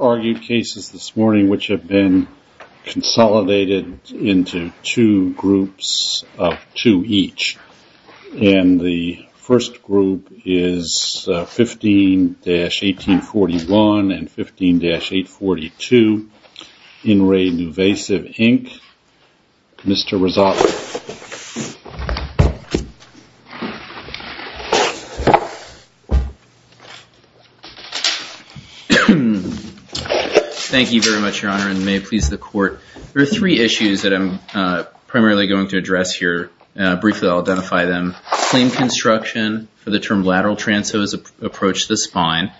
Argued cases this morning which have been consolidated into two groups of two each. And the first group is 15-1841 and 15-842. In Re NuVasive, Inc. Mr. Rezat. Thank you very much, Your Honor, and may it please the Court. There are three issues that I'm primarily going to address here. Briefly, I'll identify them. Claim construction for the term lateral transverse approach to the spine.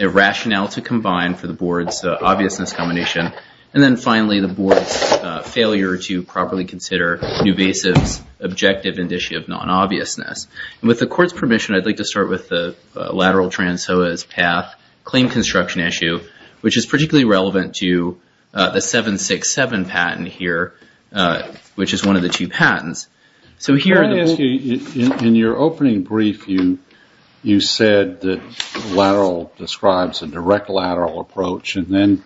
Irrationality combined for the board's obviousness combination. And then finally, the board's failure to properly consider NuVasive's objective and issue of non-obviousness. With the Court's permission, I'd like to start with the lateral transverse path claim construction issue, which is particularly relevant to the 767 patent here, which is one of the two patents. In your opening brief, you said that lateral describes a direct lateral approach. And then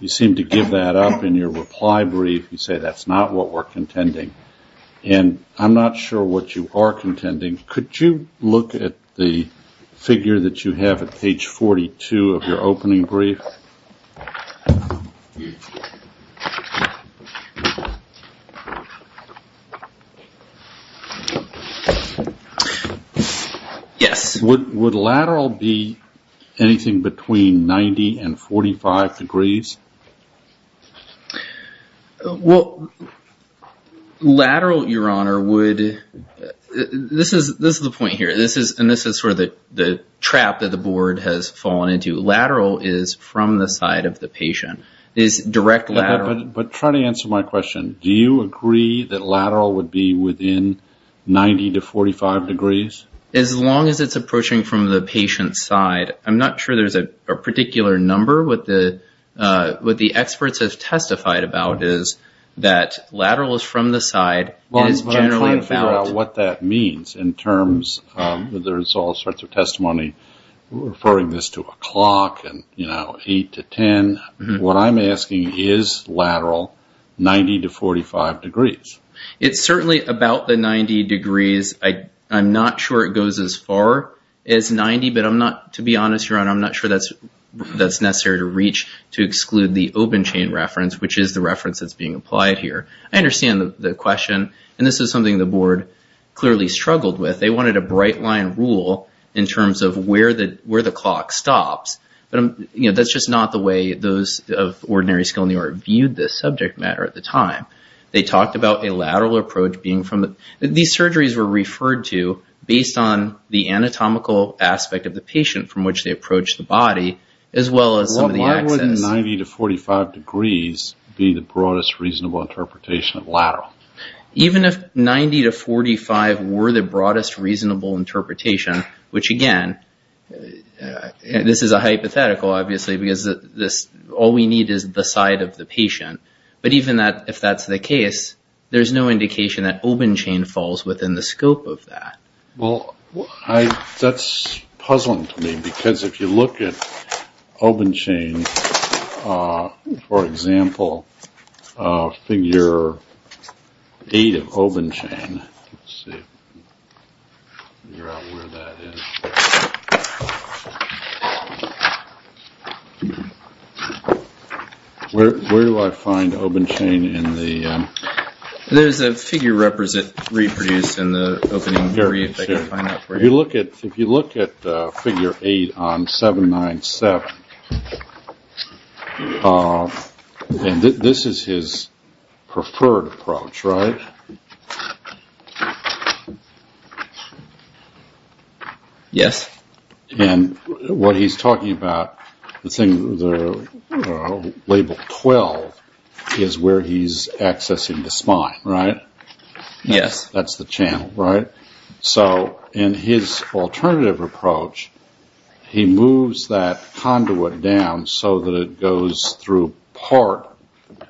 you seem to give that up in your reply brief. You say that's not what we're contending. And I'm not sure what you are contending. Could you look at the figure that you have at page 42 of your opening brief? Yes. Would lateral be anything between 90 and 45 degrees? Well, lateral, Your Honor, would – this is the point here. And this is sort of the trap that the board has fallen into. Lateral is from the side of the patient, is direct lateral. But try to answer my question. Do you agree that lateral would be within 90 to 45 degrees? As long as it's approaching from the patient's side. I'm not sure there's a particular number. What the experts have testified about is that lateral is from the side. It is generally about – Well, I'm trying to figure out what that means in terms – there's all sorts of testimony referring this to a clock and, you know, 8 to 10. What I'm asking is lateral 90 to 45 degrees. It's certainly about the 90 degrees. I'm not sure it goes as far as 90. But I'm not – to be honest, Your Honor, I'm not sure that's necessary to reach to exclude the open chain reference, which is the reference that's being applied here. I understand the question. And this is something the board clearly struggled with. They wanted a bright line rule in terms of where the clock stops. But, you know, that's just not the way those of ordinary skill in the art viewed this subject matter at the time. They talked about a lateral approach being from – these surgeries were referred to based on the anatomical aspect of the patient from which they approached the body, as well as some of the access. Why would 90 to 45 degrees be the broadest reasonable interpretation of lateral? Even if 90 to 45 were the broadest reasonable interpretation, which, again, this is a hypothetical, obviously, because all we need is the side of the patient. But even if that's the case, there's no indication that open chain falls within the scope of that. Well, that's puzzling to me because if you look at open chain, for example, figure 8 of open chain, let's see, figure out where that is. Where do I find open chain in the – There's a figure reproduced in the opening brief. I can find that for you. If you look at figure 8 on 797, this is his preferred approach, right? Yes. And what he's talking about, the label 12 is where he's accessing the spine, right? Yes. That's the channel, right? So in his alternative approach, he moves that conduit down so that it goes through part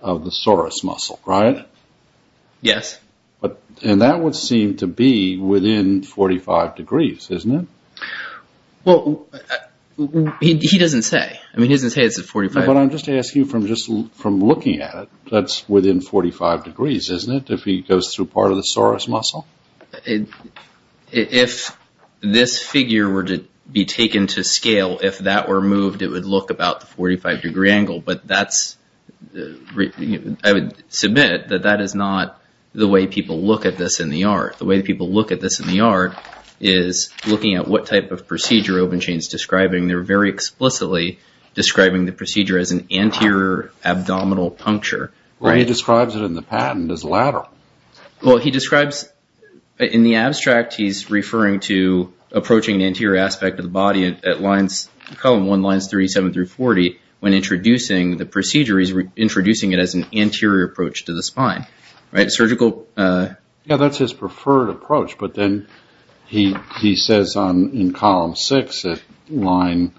of the sorus muscle, right? Yes. And that would seem to be within 45 degrees, isn't it? Well, he doesn't say. I mean, he doesn't say it's at 45. But I'm just asking you from looking at it, that's within 45 degrees, isn't it, if he goes through part of the sorus muscle? If this figure were to be taken to scale, if that were moved, it would look about the 45-degree angle. But that's – I would submit that that is not the way people look at this in the art. The way people look at this in the art is looking at what type of procedure open chain is describing. They're very explicitly describing the procedure as an anterior abdominal puncture. Well, he describes it in the patent as lateral. Well, he describes – in the abstract, he's referring to approaching an anterior aspect of the body at lines – column 1, lines 37 through 40, when introducing the procedure, he's introducing it as an anterior approach to the spine, right? Surgical – Yes, that's his preferred approach. But then he says in column 6 at line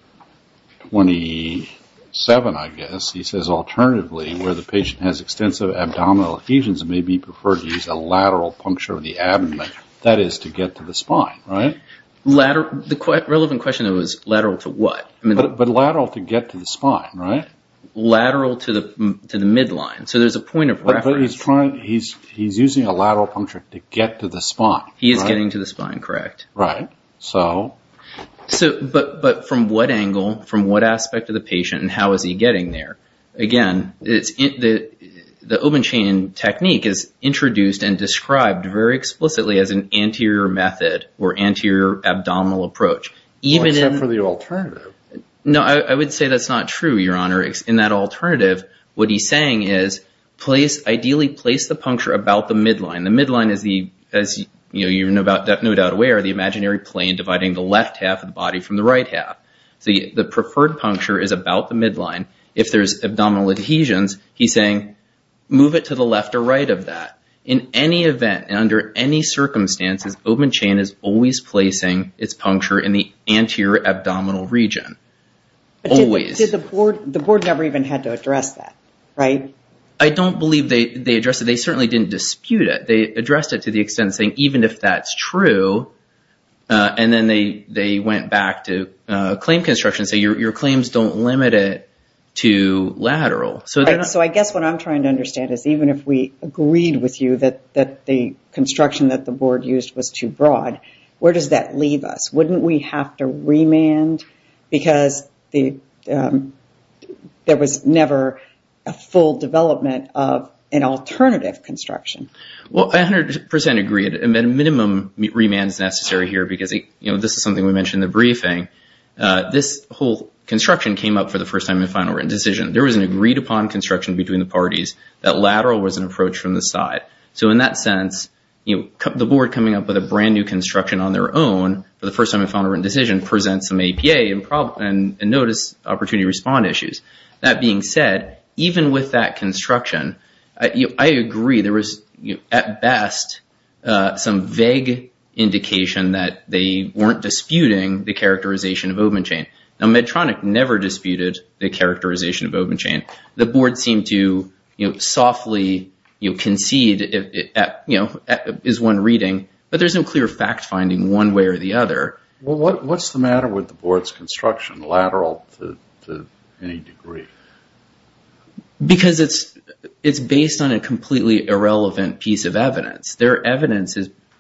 27, I guess, he says, alternatively, where the patient has extensive abdominal adhesions, it may be preferred to use a lateral puncture of the abdomen, that is, to get to the spine, right? Lateral – the relevant question, though, is lateral to what? But lateral to get to the spine, right? Lateral to the midline. So there's a point of reference. But he's trying – he's using a lateral puncture to get to the spine, right? He is getting to the spine, correct. Right. So? So – but from what angle, from what aspect of the patient, and how is he getting there? Again, the open chain technique is introduced and described very explicitly as an anterior method or anterior abdominal approach. Well, except for the alternative. No, I would say that's not true, Your Honor. In that alternative, what he's saying is ideally place the puncture about the midline. The midline is the – as you're no doubt aware, the imaginary plane dividing the left half of the body from the right half. The preferred puncture is about the midline. If there's abdominal adhesions, he's saying move it to the left or right of that. In any event and under any circumstances, open chain is always placing its puncture in the anterior abdominal region. Always. Did the board – the board never even had to address that, right? I don't believe they addressed it. They certainly didn't dispute it. They addressed it to the extent of saying even if that's true, and then they went back to claim construction and say your claims don't limit it to lateral. So I guess what I'm trying to understand is even if we agreed with you that the construction that the board used was too broad, where does that leave us? Wouldn't we have to remand because there was never a full development of an alternative construction? Well, I 100% agree. A minimum remand is necessary here because this is something we mentioned in the briefing. This whole construction came up for the first time in a final written decision. There was an agreed upon construction between the parties. That lateral was an approach from the side. So in that sense, the board coming up with a brand new construction on their own for the first time in a final written decision presents some APA and notice opportunity to respond issues. That being said, even with that construction, I agree. There was at best some vague indication that they weren't disputing the characterization of open chain. Now Medtronic never disputed the characterization of open chain. The board seemed to softly concede is one reading, but there's no clear fact finding one way or the other. What's the matter with the board's construction, lateral to any degree? Because it's based on a completely irrelevant piece of evidence. Their evidence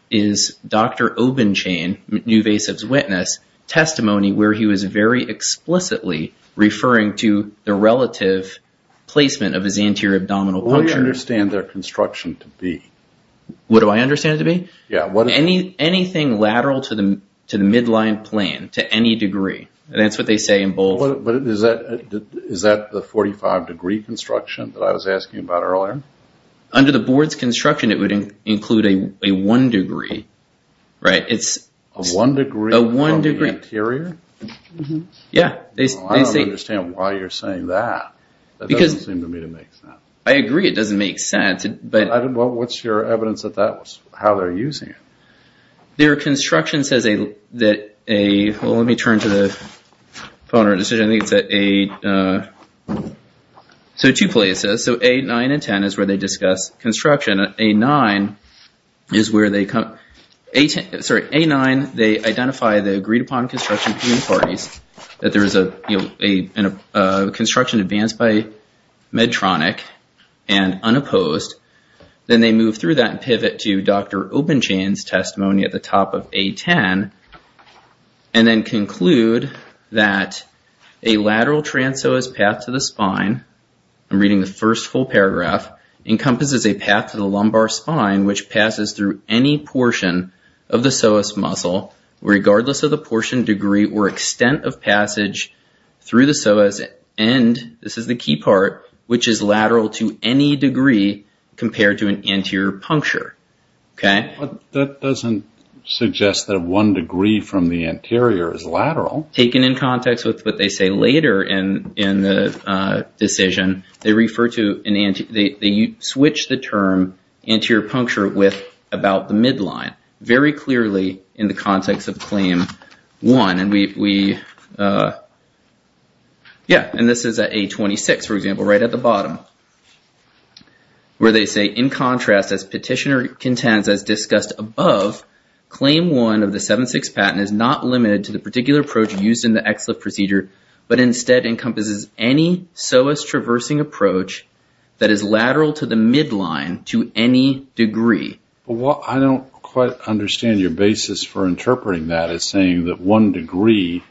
is Dr. Open Chain, Newvasive's witness, testimony where he was very explicitly referring to the relative placement of his anterior abdominal puncture. What do you understand their construction to be? What do I understand it to be? Anything lateral to the midline plane to any degree. That's what they say in bold. Is that the 45 degree construction that I was asking about earlier? Under the board's construction, it would include a one degree. A one degree of the anterior? I don't understand why you're saying that. That doesn't seem to me to make sense. I agree it doesn't make sense. What's your evidence that that was how they're using it? Their construction says that a, well, let me turn to the phone or decision. I think it's a, so two places. So A9 and 10 is where they discuss construction. A9 is where they, sorry, A9, they identify the agreed upon construction between parties, that there is a construction advanced by Medtronic and unopposed. Then they move through that and pivot to Dr. Obenchain's testimony at the top of A10 and then conclude that a lateral trans psoas path to the spine, I'm reading the first full paragraph, encompasses a path to the lumbar spine which passes through any portion of the psoas muscle, regardless of the portion, degree, or extent of passage through the psoas, and this is the key part, which is lateral to any degree compared to an anterior puncture. That doesn't suggest that one degree from the anterior is lateral. Taken in context with what they say later in the decision, they refer to, they switch the term anterior puncture with about the midline. Very clearly in the context of Claim 1, and we, yeah, and this is at A26, for example, right at the bottom, where they say in contrast as petitioner contends as discussed above, Claim 1 of the 7.6 patent is not limited to the particular approach used in the XLIF procedure, but instead encompasses any psoas traversing approach that is lateral to the midline to any degree. Well, I don't quite understand your basis for interpreting that as saying that one degree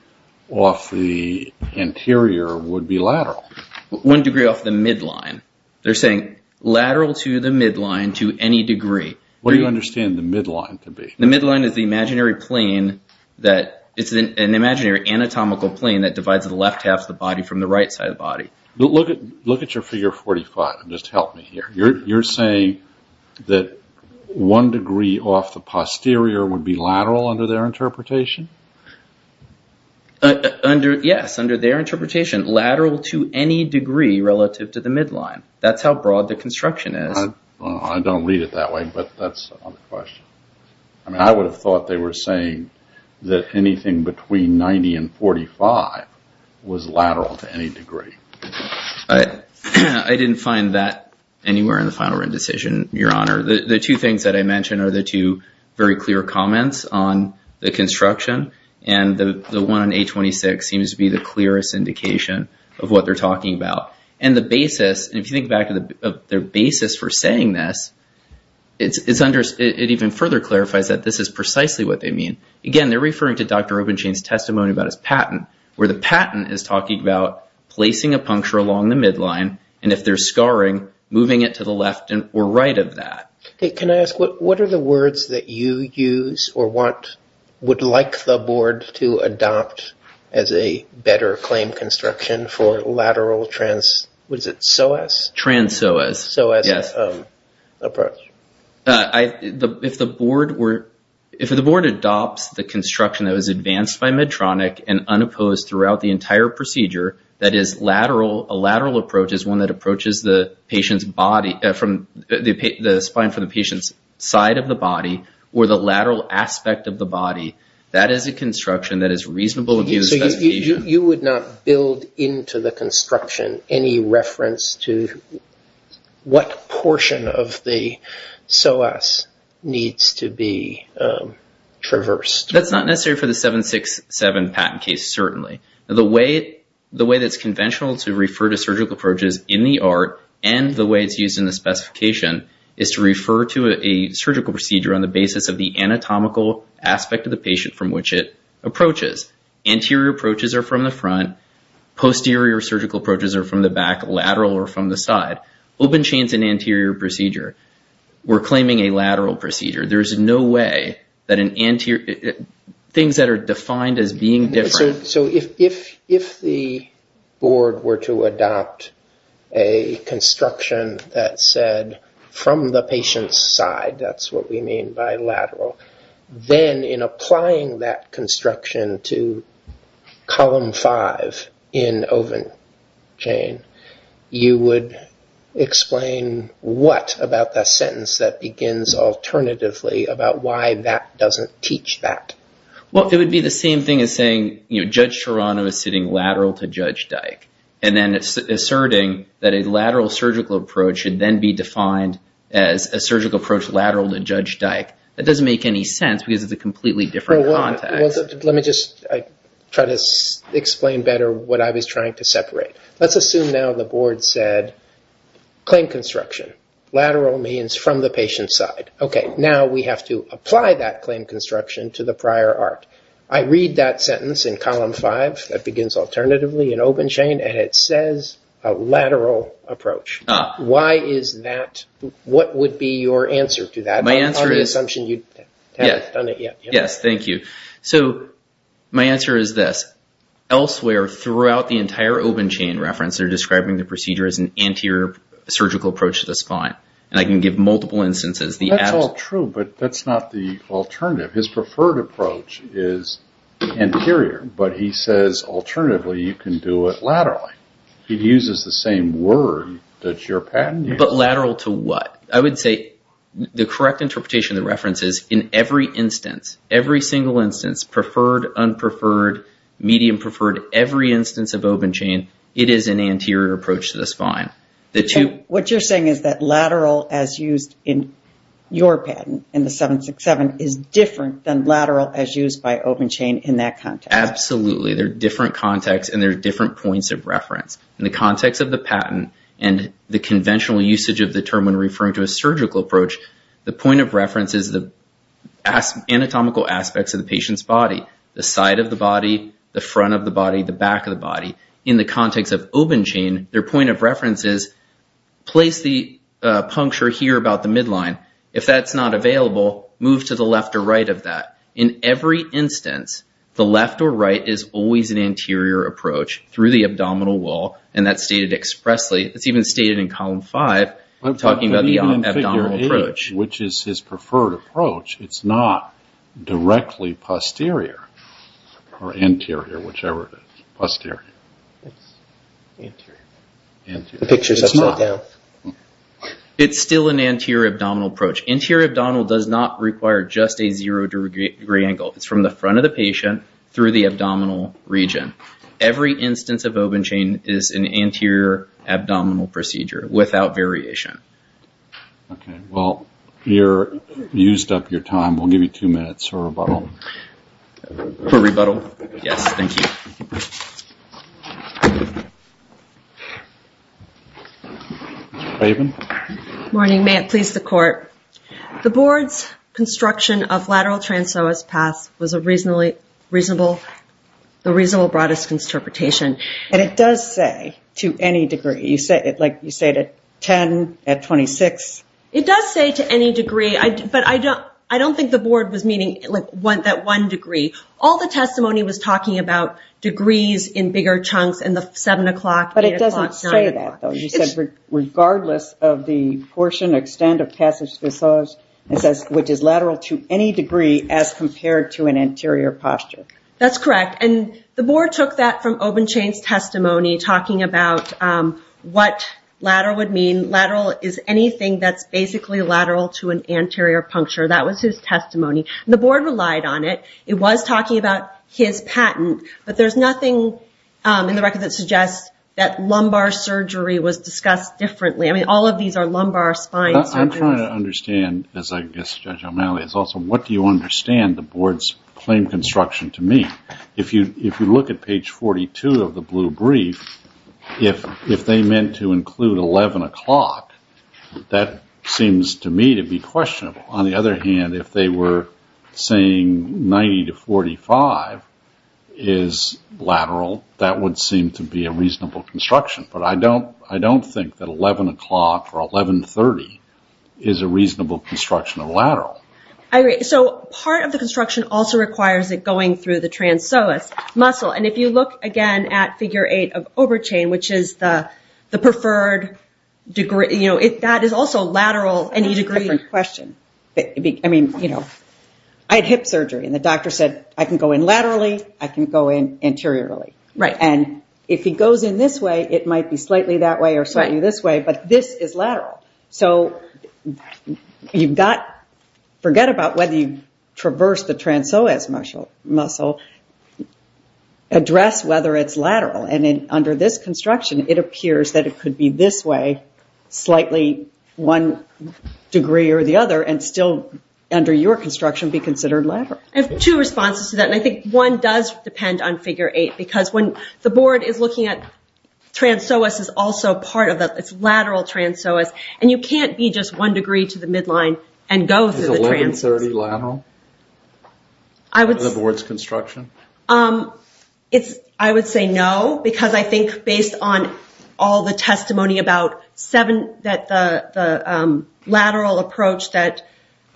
off the anterior would be lateral. One degree off the midline. They're saying lateral to the midline to any degree. What do you understand the midline to be? The midline is the imaginary plane that, it's an imaginary anatomical plane that divides the left half of the body from the right side of the body. Look at your figure 45 and just help me here. You're saying that one degree off the posterior would be lateral under their interpretation? Yes, under their interpretation, lateral to any degree relative to the midline. That's how broad the construction is. I don't read it that way, but that's another question. I mean, I would have thought they were saying that anything between 90 and 45 was lateral to any degree. I didn't find that anywhere in the final written decision, Your Honor. The two things that I mentioned are the two very clear comments on the construction, and the one on 826 seems to be the clearest indication of what they're talking about. And the basis, if you think back to their basis for saying this, it even further clarifies that this is precisely what they mean. Again, they're referring to Dr. Robenstein's testimony about his patent, where the patent is talking about placing a puncture along the midline, and if they're scarring, moving it to the left or right of that. Can I ask, what are the words that you use or would like the Board to adopt as a better claim construction for lateral trans, what is it, psoas? Trans psoas. Psoas approach. If the Board adopts the construction that was advanced by Medtronic and unopposed throughout the entire procedure, that is a lateral approach is one that approaches the spine from the patient's side of the body or the lateral aspect of the body, that is a construction that is reasonable to use. So you would not build into the construction any reference to what portion of the psoas needs to be traversed. That's not necessary for the 767 patent case, certainly. The way that's conventional to refer to surgical approaches in the art and the way it's used in the specification is to refer to a surgical procedure on the basis of the anatomical aspect of the patient from which it approaches. Anterior approaches are from the front. Posterior surgical approaches are from the back, lateral or from the side. Open chain is an anterior procedure. We're claiming a lateral procedure. There's no way that an anterior, things that are defined as being different. So if the Board were to adopt a construction that said from the patient's side, that's what we mean by lateral, then in applying that construction to column 5 in open chain, you would explain what about that sentence that begins alternatively about why that doesn't teach that. Well, it would be the same thing as saying Judge Serrano is sitting lateral to Judge Dyke and then asserting that a lateral surgical approach should then be defined as a surgical approach lateral to Judge Dyke. That doesn't make any sense because it's a completely different context. Let me just try to explain better what I was trying to separate. Let's assume now the Board said claim construction. Lateral means from the patient's side. Okay, now we have to apply that claim construction to the prior art. I read that sentence in column 5 that begins alternatively in open chain and it says a lateral approach. Why is that? What would be your answer to that? My answer is this. Elsewhere throughout the entire open chain reference, they're describing the procedure as an anterior surgical approach to the spine, and I can give multiple instances. That's all true, but that's not the alternative. His preferred approach is anterior, but he says alternatively you can do it laterally. He uses the same word that your patent uses. But lateral to what? I would say the correct interpretation of the reference is in every instance, every single instance, preferred, unpreferred, medium preferred, every instance of open chain, it is an anterior approach to the spine. What you're saying is that lateral as used in your patent in the 767 is different than lateral as used by open chain in that context. Absolutely. There are different contexts and there are different points of reference. In the context of the patent and the conventional usage of the term when referring to a surgical approach, the point of reference is the anatomical aspects of the patient's body, the side of the body, the front of the body, the back of the body. In the context of open chain, their point of reference is place the puncture here about the midline. If that's not available, move to the left or right of that. In every instance, the left or right is always an anterior approach through the abdominal wall, and that's stated expressly. It's even stated in Column 5 talking about the abdominal approach. Which is his preferred approach. It's not directly posterior or anterior, whichever it is, posterior. It's anterior. The picture is upside down. It's still an anterior abdominal approach. Anterior abdominal does not require just a zero degree angle. It's from the front of the patient through the abdominal region. Every instance of open chain is an anterior abdominal procedure without variation. Okay. Well, you're used up your time. We'll give you two minutes for rebuttal. For rebuttal? Yes. Thank you. Raven? Morning. May it please the court. The board's construction of lateral transverse paths was the reasonable broadest interpretation. And it does say to any degree. You say it at 10, at 26. It does say to any degree, but I don't think the board was meaning that one degree. All the testimony was talking about degrees in bigger chunks and the 7 o'clock, 8 o'clock, 9 o'clock. But it doesn't say that though. It says regardless of the portion, extent of passage visage, it says which is lateral to any degree as compared to an anterior posture. That's correct. And the board took that from open chain's testimony, talking about what lateral would mean. Lateral is anything that's basically lateral to an anterior puncture. That was his testimony. The board relied on it. It was talking about his patent, but there's nothing in the record that suggests that lumbar surgery was discussed differently. I mean, all of these are lumbar spine surgeries. I'm trying to understand, as I guess Judge O'Malley has also, what do you understand the board's claim construction to mean? If you look at page 42 of the blue brief, if they meant to include 11 o'clock, that seems to me to be questionable. On the other hand, if they were saying 90 to 45, is lateral, that would seem to be a reasonable construction. But I don't think that 11 o'clock or 11 to 30 is a reasonable construction of lateral. I agree. So part of the construction also requires it going through the trans-psoas muscle. And if you look again at figure eight of over chain, which is the preferred degree, that is also lateral any degree. That's a different question. I mean, you know, I had hip surgery, and the doctor said I can go in laterally, I can go in anteriorly. And if he goes in this way, it might be slightly that way or slightly this way, but this is lateral. So forget about whether you traverse the trans-psoas muscle. Address whether it's lateral. And under this construction, it appears that it could be this way, slightly one degree or the other, and still under your construction be considered lateral. I have two responses to that, and I think one does depend on figure eight, because when the board is looking at trans-psoas is also part of that, it's lateral trans-psoas, and you can't be just one degree to the midline and go through the trans-psoas. Is 11-30 lateral in the board's construction? I would say no, because I think based on all the testimony about the lateral approach that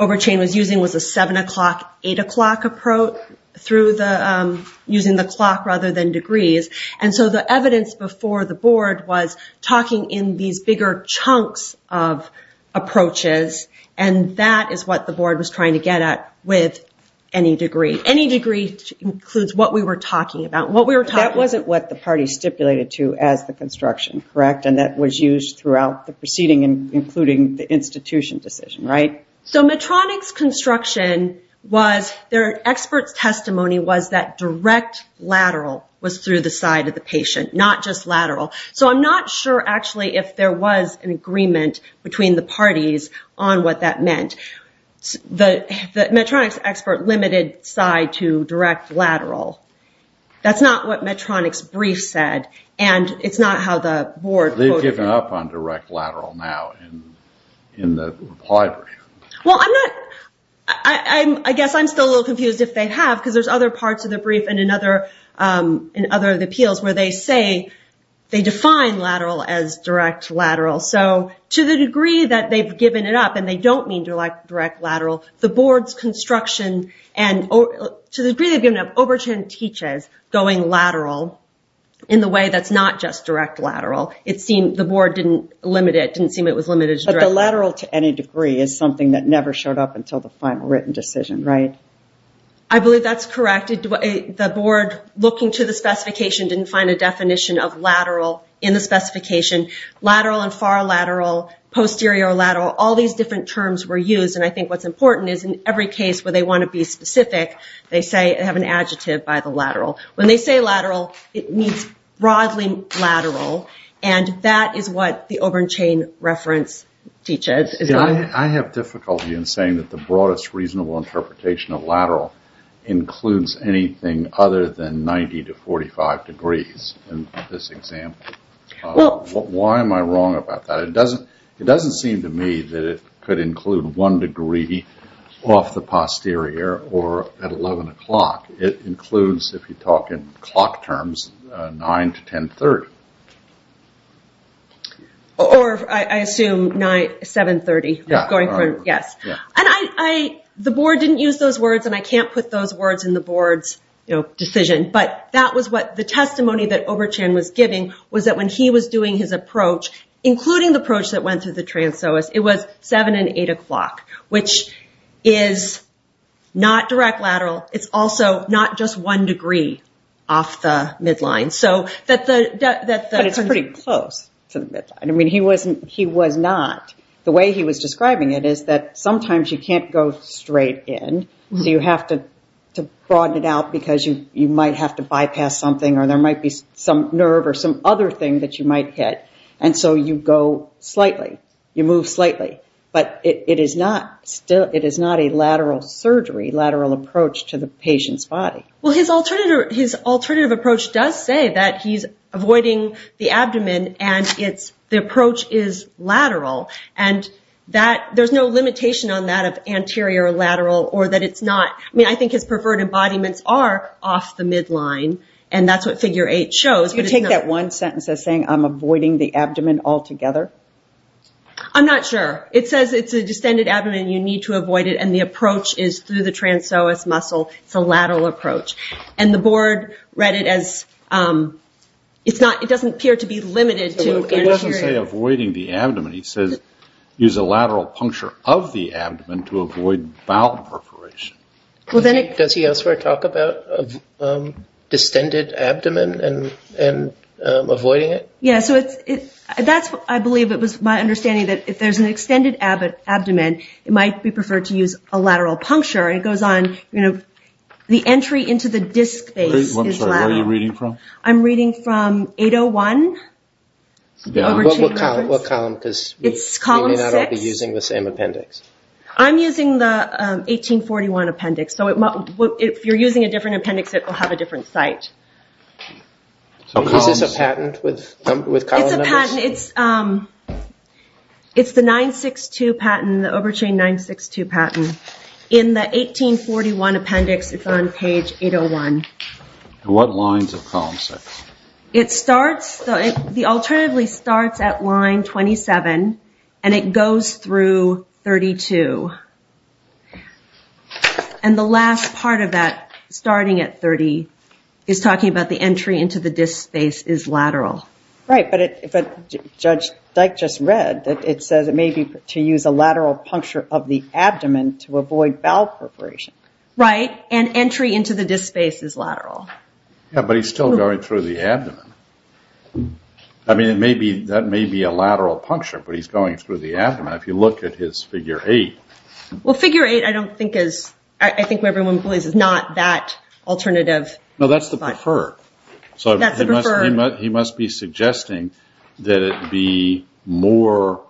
Overchain was using was a 7 o'clock, 8 o'clock approach, using the clock rather than degrees. And so the evidence before the board was talking in these bigger chunks of approaches, and that is what the board was trying to get at with any degree. Any degree includes what we were talking about. That wasn't what the party stipulated to as the construction, correct? And that was used throughout the proceeding, including the institution decision, right? So Medtronic's construction was, their expert's testimony was that direct lateral was through the side of the patient, not just lateral. So I'm not sure actually if there was an agreement between the parties on what that meant. The Medtronic's expert limited side to direct lateral. That's not what Medtronic's brief said, and it's not how the board quoted it. They've given up on direct lateral now in the reply brief. Well, I'm not, I guess I'm still a little confused if they have, because there's other parts of the brief and in other of the appeals where they say they define lateral as direct lateral. So to the degree that they've given it up, and they don't mean direct lateral, the board's construction and to the degree they've given up, Overton teaches going lateral in the way that's not just direct lateral. It seemed the board didn't limit it, didn't seem it was limited to direct. But the lateral to any degree is something that never showed up until the final written decision, right? I believe that's correct. The board, looking to the specification, didn't find a definition of lateral in the specification. Lateral and far lateral, posterior lateral, all these different terms were used. And I think what's important is in every case where they want to be subjective by the lateral, when they say lateral, it means broadly lateral. And that is what the Obernchain reference teaches. I have difficulty in saying that the broadest reasonable interpretation of lateral includes anything other than 90 to 45 degrees in this example. Why am I wrong about that? It doesn't seem to me that it could include one degree off the posterior or at 11 o'clock. It includes, if you talk in clock terms, 9 to 1030. Or I assume 730. Yes. And the board didn't use those words, and I can't put those words in the board's decision. But that was what the testimony that Oberchain was giving was that when he was doing his approach, including the approach that went through the lateral, it's also not just one degree off the midline. But it's pretty close to the midline. I mean, he was not. The way he was describing it is that sometimes you can't go straight in, so you have to broaden it out because you might have to bypass something or there might be some nerve or some other thing that you might hit. And so you go slightly. You move slightly. But it is not a lateral surgery, lateral approach to the patient's body. Well, his alternative approach does say that he's avoiding the abdomen and the approach is lateral. And there's no limitation on that of anterior or lateral or that it's not. I mean, I think his preferred embodiments are off the midline, and that's what Figure 8 shows. You take that one sentence as saying I'm avoiding the abdomen altogether? I'm not sure. It says it's a distended abdomen. You need to avoid it, and the approach is through the trans-psoas muscle. It's a lateral approach. And the board read it as it doesn't appear to be limited to anterior. It doesn't say avoiding the abdomen. It says use a lateral puncture of the abdomen to avoid bowel perforation. Does he elsewhere talk about distended abdomen and avoiding it? Yeah, so I believe it was my understanding that if there's an extended abdomen, it might be preferred to use a lateral puncture. It goes on, you know, the entry into the disc space is lateral. I'm sorry, where are you reading from? I'm reading from 801. What column? It's column 6. You may not all be using the same appendix. I'm using the 1841 appendix. So if you're using a different appendix, it will have a different site. Is this a patent with column numbers? It's a patent. It's the 9-6-2 patent, the Obertrain 9-6-2 patent. In the 1841 appendix, it's on page 801. What lines of column 6? It starts, the alternatively starts at line 27, and it goes through 32. And the last part of that, starting at 30, is talking about the entry into the disc space is lateral. Right, but Judge Dyke just read that it says it may be to use a lateral puncture of the abdomen to avoid bowel perforation. Right, and entry into the disc space is lateral. Yeah, but he's still going through the abdomen. I mean, that may be a lateral puncture, but he's going through the abdomen. If you look at his figure 8. Well, figure 8 I don't think is, I think what everyone believes is not that alternative. No, that's the preferred. That's the preferred. He must be suggesting that it be more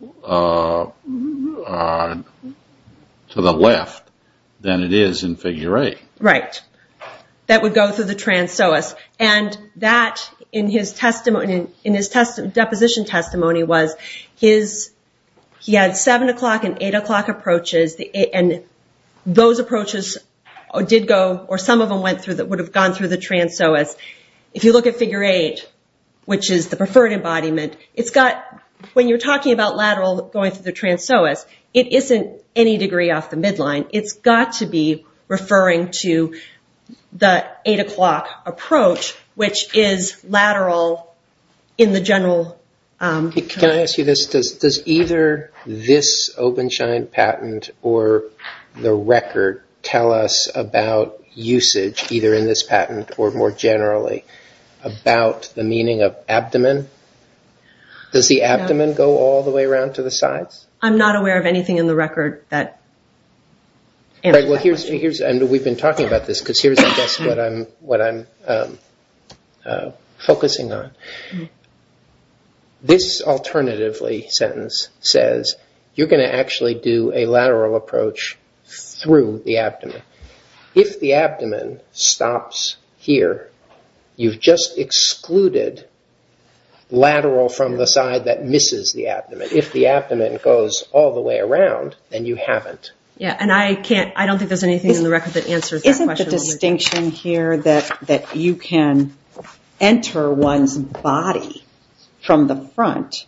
to the left than it is in figure 8. Right. That would go through the transoas. And that, in his deposition testimony, was he had 7 o'clock and 8 o'clock approaches, and those approaches did go, or some of them went through, would have gone through the transoas. If you look at figure 8, which is the preferred embodiment, when you're talking about lateral going through the transoas, it isn't any degree off the midline. It's got to be referring to the 8 o'clock approach, which is lateral in the general. Can I ask you this? Does either this Openshine patent or the record tell us about usage, either in this patent or more generally, about the meaning of abdomen? Does the abdomen go all the way around to the sides? I'm not aware of anything in the record that answers that question. We've been talking about this because here's what I'm focusing on. This alternatively sentence says you're going to actually do a lateral approach through the abdomen. If the abdomen stops here, you've just excluded lateral from the side that misses the abdomen. If the abdomen goes all the way around, then you haven't. I don't think there's anything in the record that answers that question. Isn't the distinction here that you can enter one's body from the front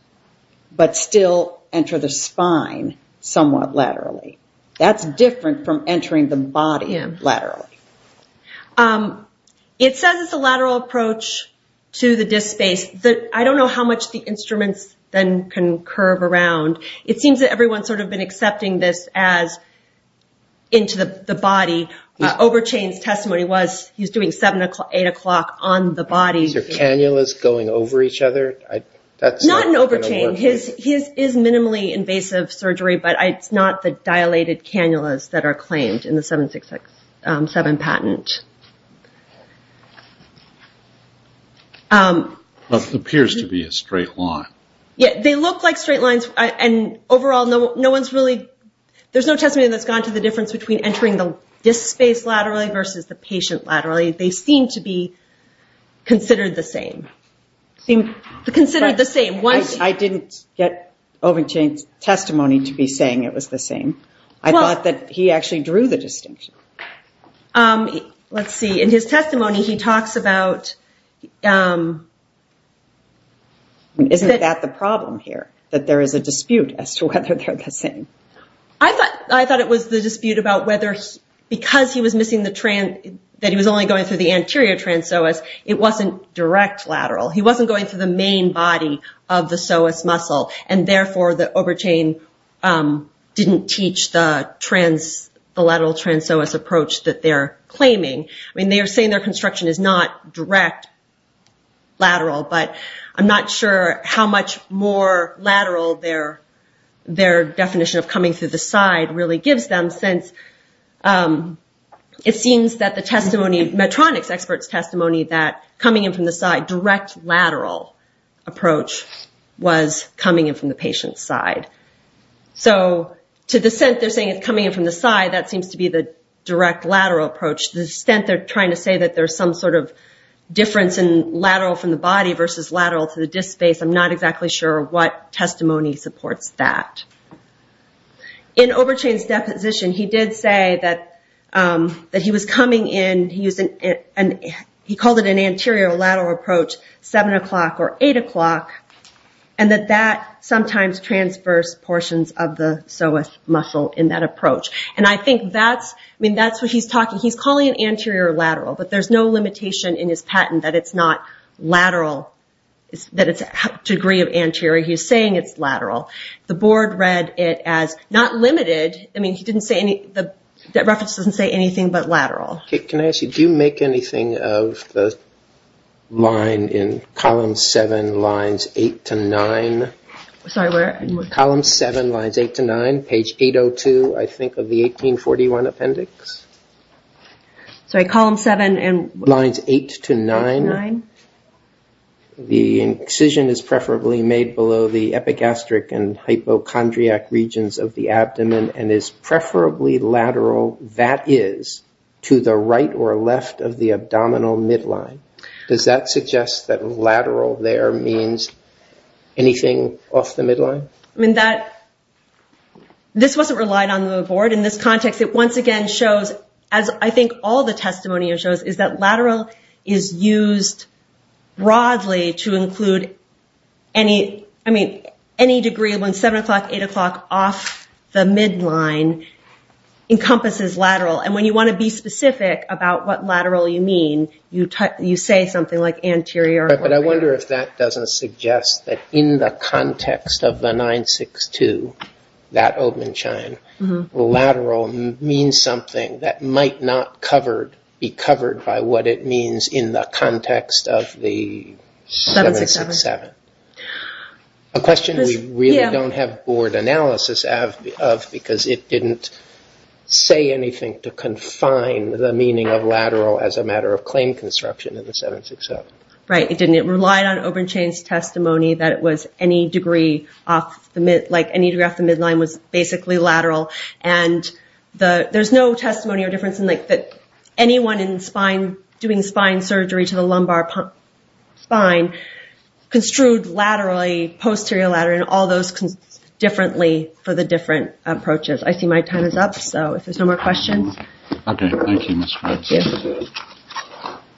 but still enter the spine somewhat laterally? That's different from entering the body laterally. It says it's a lateral approach to the disk space. I don't know how much the instruments then can curve around. It seems that everyone's sort of been accepting this as into the body. Overchain's testimony was he's doing 8 o'clock on the body. Is there cannulas going over each other? Not in Overchain. His is minimally invasive surgery, but it's not the dilated cannulas that are claimed in the 7667 patent. It appears to be a straight line. They look like straight lines. There's no testimony that's gone to the difference between entering the disk space laterally versus the patient laterally. They seem to be considered the same. I didn't get Overchain's testimony to be saying it was the same. I thought that he actually drew the distinction. Let's see. In his testimony, he talks about... Isn't that the problem here, that there is a dispute as to whether they're the same? I thought it was the dispute about whether because he was missing the trans, that he was only going through the anterior trans psoas, it wasn't direct lateral. He wasn't going through the main body of the psoas muscle, and therefore the Overchain didn't teach the lateral trans psoas approach that they're claiming. They are saying their construction is not direct lateral, but I'm not sure how much more lateral their definition of coming through the side really gives them since it seems that the testimony, Medtronic's expert's testimony, that coming in from the side, direct lateral approach was coming in from the patient's side. So to the extent they're saying it's coming in from the side, that seems to be the direct lateral approach. To the extent they're trying to say that there's some sort of difference in lateral from the body versus lateral to the disk space, I'm not exactly sure what testimony supports that. In Overchain's deposition, he did say that he was coming in... He called it an anterior lateral approach, 7 o'clock or 8 o'clock, and that that sometimes transverse portions of the psoas muscle in that approach. I think that's what he's talking... He's calling it anterior lateral, but there's no limitation in his patent that it's not lateral, that it's a degree of anterior. He's saying it's lateral. The board read it as not limited. The reference doesn't say anything but lateral. Can I ask you, do you make anything of the line in column 7, lines 8 to 9? Sorry, where? Column 7, lines 8 to 9, page 802, I think, of the 1841 appendix. Sorry, column 7 and... Lines 8 to 9. The incision is preferably made below the epigastric and hypochondriac regions of the abdomen and is preferably lateral, that is, to the right or left of the abdominal midline. Does that suggest that lateral there means anything off the midline? I mean, this wasn't relied on in the board. In this context, it once again shows, as I think all the testimony shows, is that lateral is used broadly to include any degree when 7 o'clock, 8 o'clock off the midline encompasses lateral. And when you want to be specific about what lateral you mean, you say something like anterior. But I wonder if that doesn't suggest that in the context of the 962, that open shine, lateral means something that might not be covered by what it means in the context of the 767. A question we really don't have board analysis of, because it didn't say anything to confine the meaning of lateral as a matter of claim construction in the 767. Right, it didn't. It relied on open change testimony that it was any degree off the midline was basically lateral. And there's no testimony or difference in that anyone in spine, doing spine surgery to the lumbar spine, construed laterally, posterior lateral, and all those differently for the different approaches. I see my time is up, so if there's no more questions. Okay, thank you, Ms. Fritz.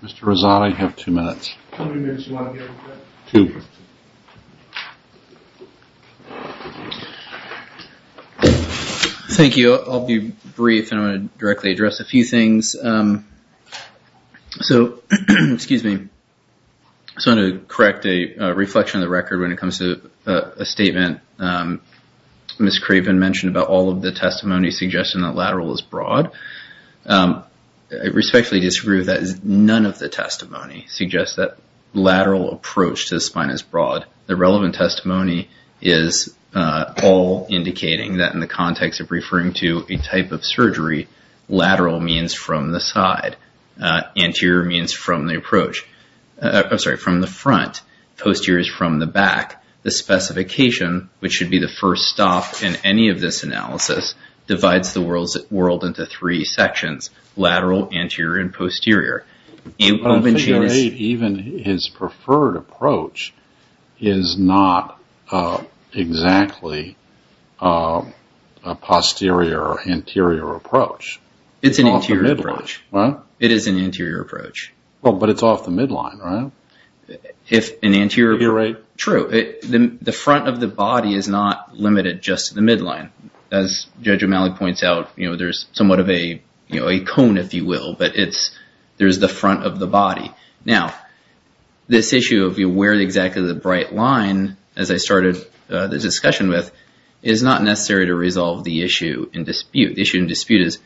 Mr. Reza, I have two minutes. How many minutes do you want to give? Two. Thank you. I'll be brief, and I want to directly address a few things. So, excuse me, I just want to correct a reflection of the record when it comes to a statement Ms. Craven mentioned about all of the testimony suggesting that lateral is broad. I respectfully disagree with that. None of the testimony suggests that lateral approach to the spine is broad. The relevant testimony is all indicating that in the context of referring to a type of surgery, lateral means from the side, anterior means from the front, posterior is from the back. The specification, which should be the first stop in any of this analysis, divides the world into three sections, lateral, anterior, and posterior. Even his preferred approach is not exactly a posterior, anterior approach. It's an anterior approach. It is an anterior approach. But it's off the midline, right? True. The front of the body is not limited just to the midline. As Judge O'Malley points out, there's somewhat of a cone, if you will, but there's the front of the body. Now, this issue of where exactly the bright line, as I started the discussion with, is not necessary to resolve the issue in dispute. The issue in dispute is,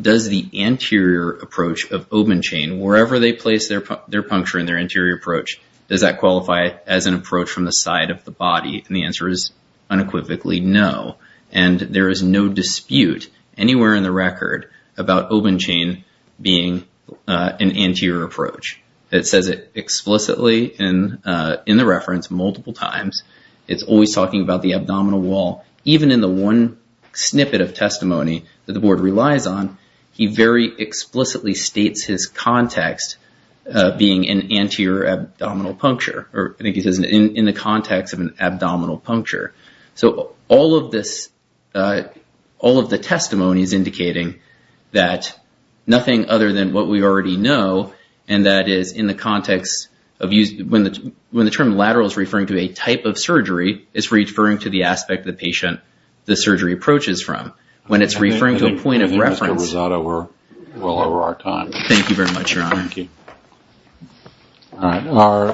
does the anterior approach of Obenchain, wherever they place their puncture in their anterior approach, does that qualify as an approach from the side of the body? And the answer is unequivocally no. And there is no dispute anywhere in the record about Obenchain being an anterior approach. It says it explicitly in the reference multiple times. It's always talking about the abdominal wall. Even in the one snippet of testimony that the board relies on, he very explicitly states his context being an anterior abdominal puncture, or I think he says in the context of an abdominal puncture. So all of the testimony is indicating that nothing other than what we already know, and that is in the context of when the term lateral is referring to a type of surgery, it's referring to the aspect of the patient the surgery approaches from. When it's referring to a point of reference... I think Mr. Rosato, we're well over our time. Thank you very much, Your Honor. Thank you. All right.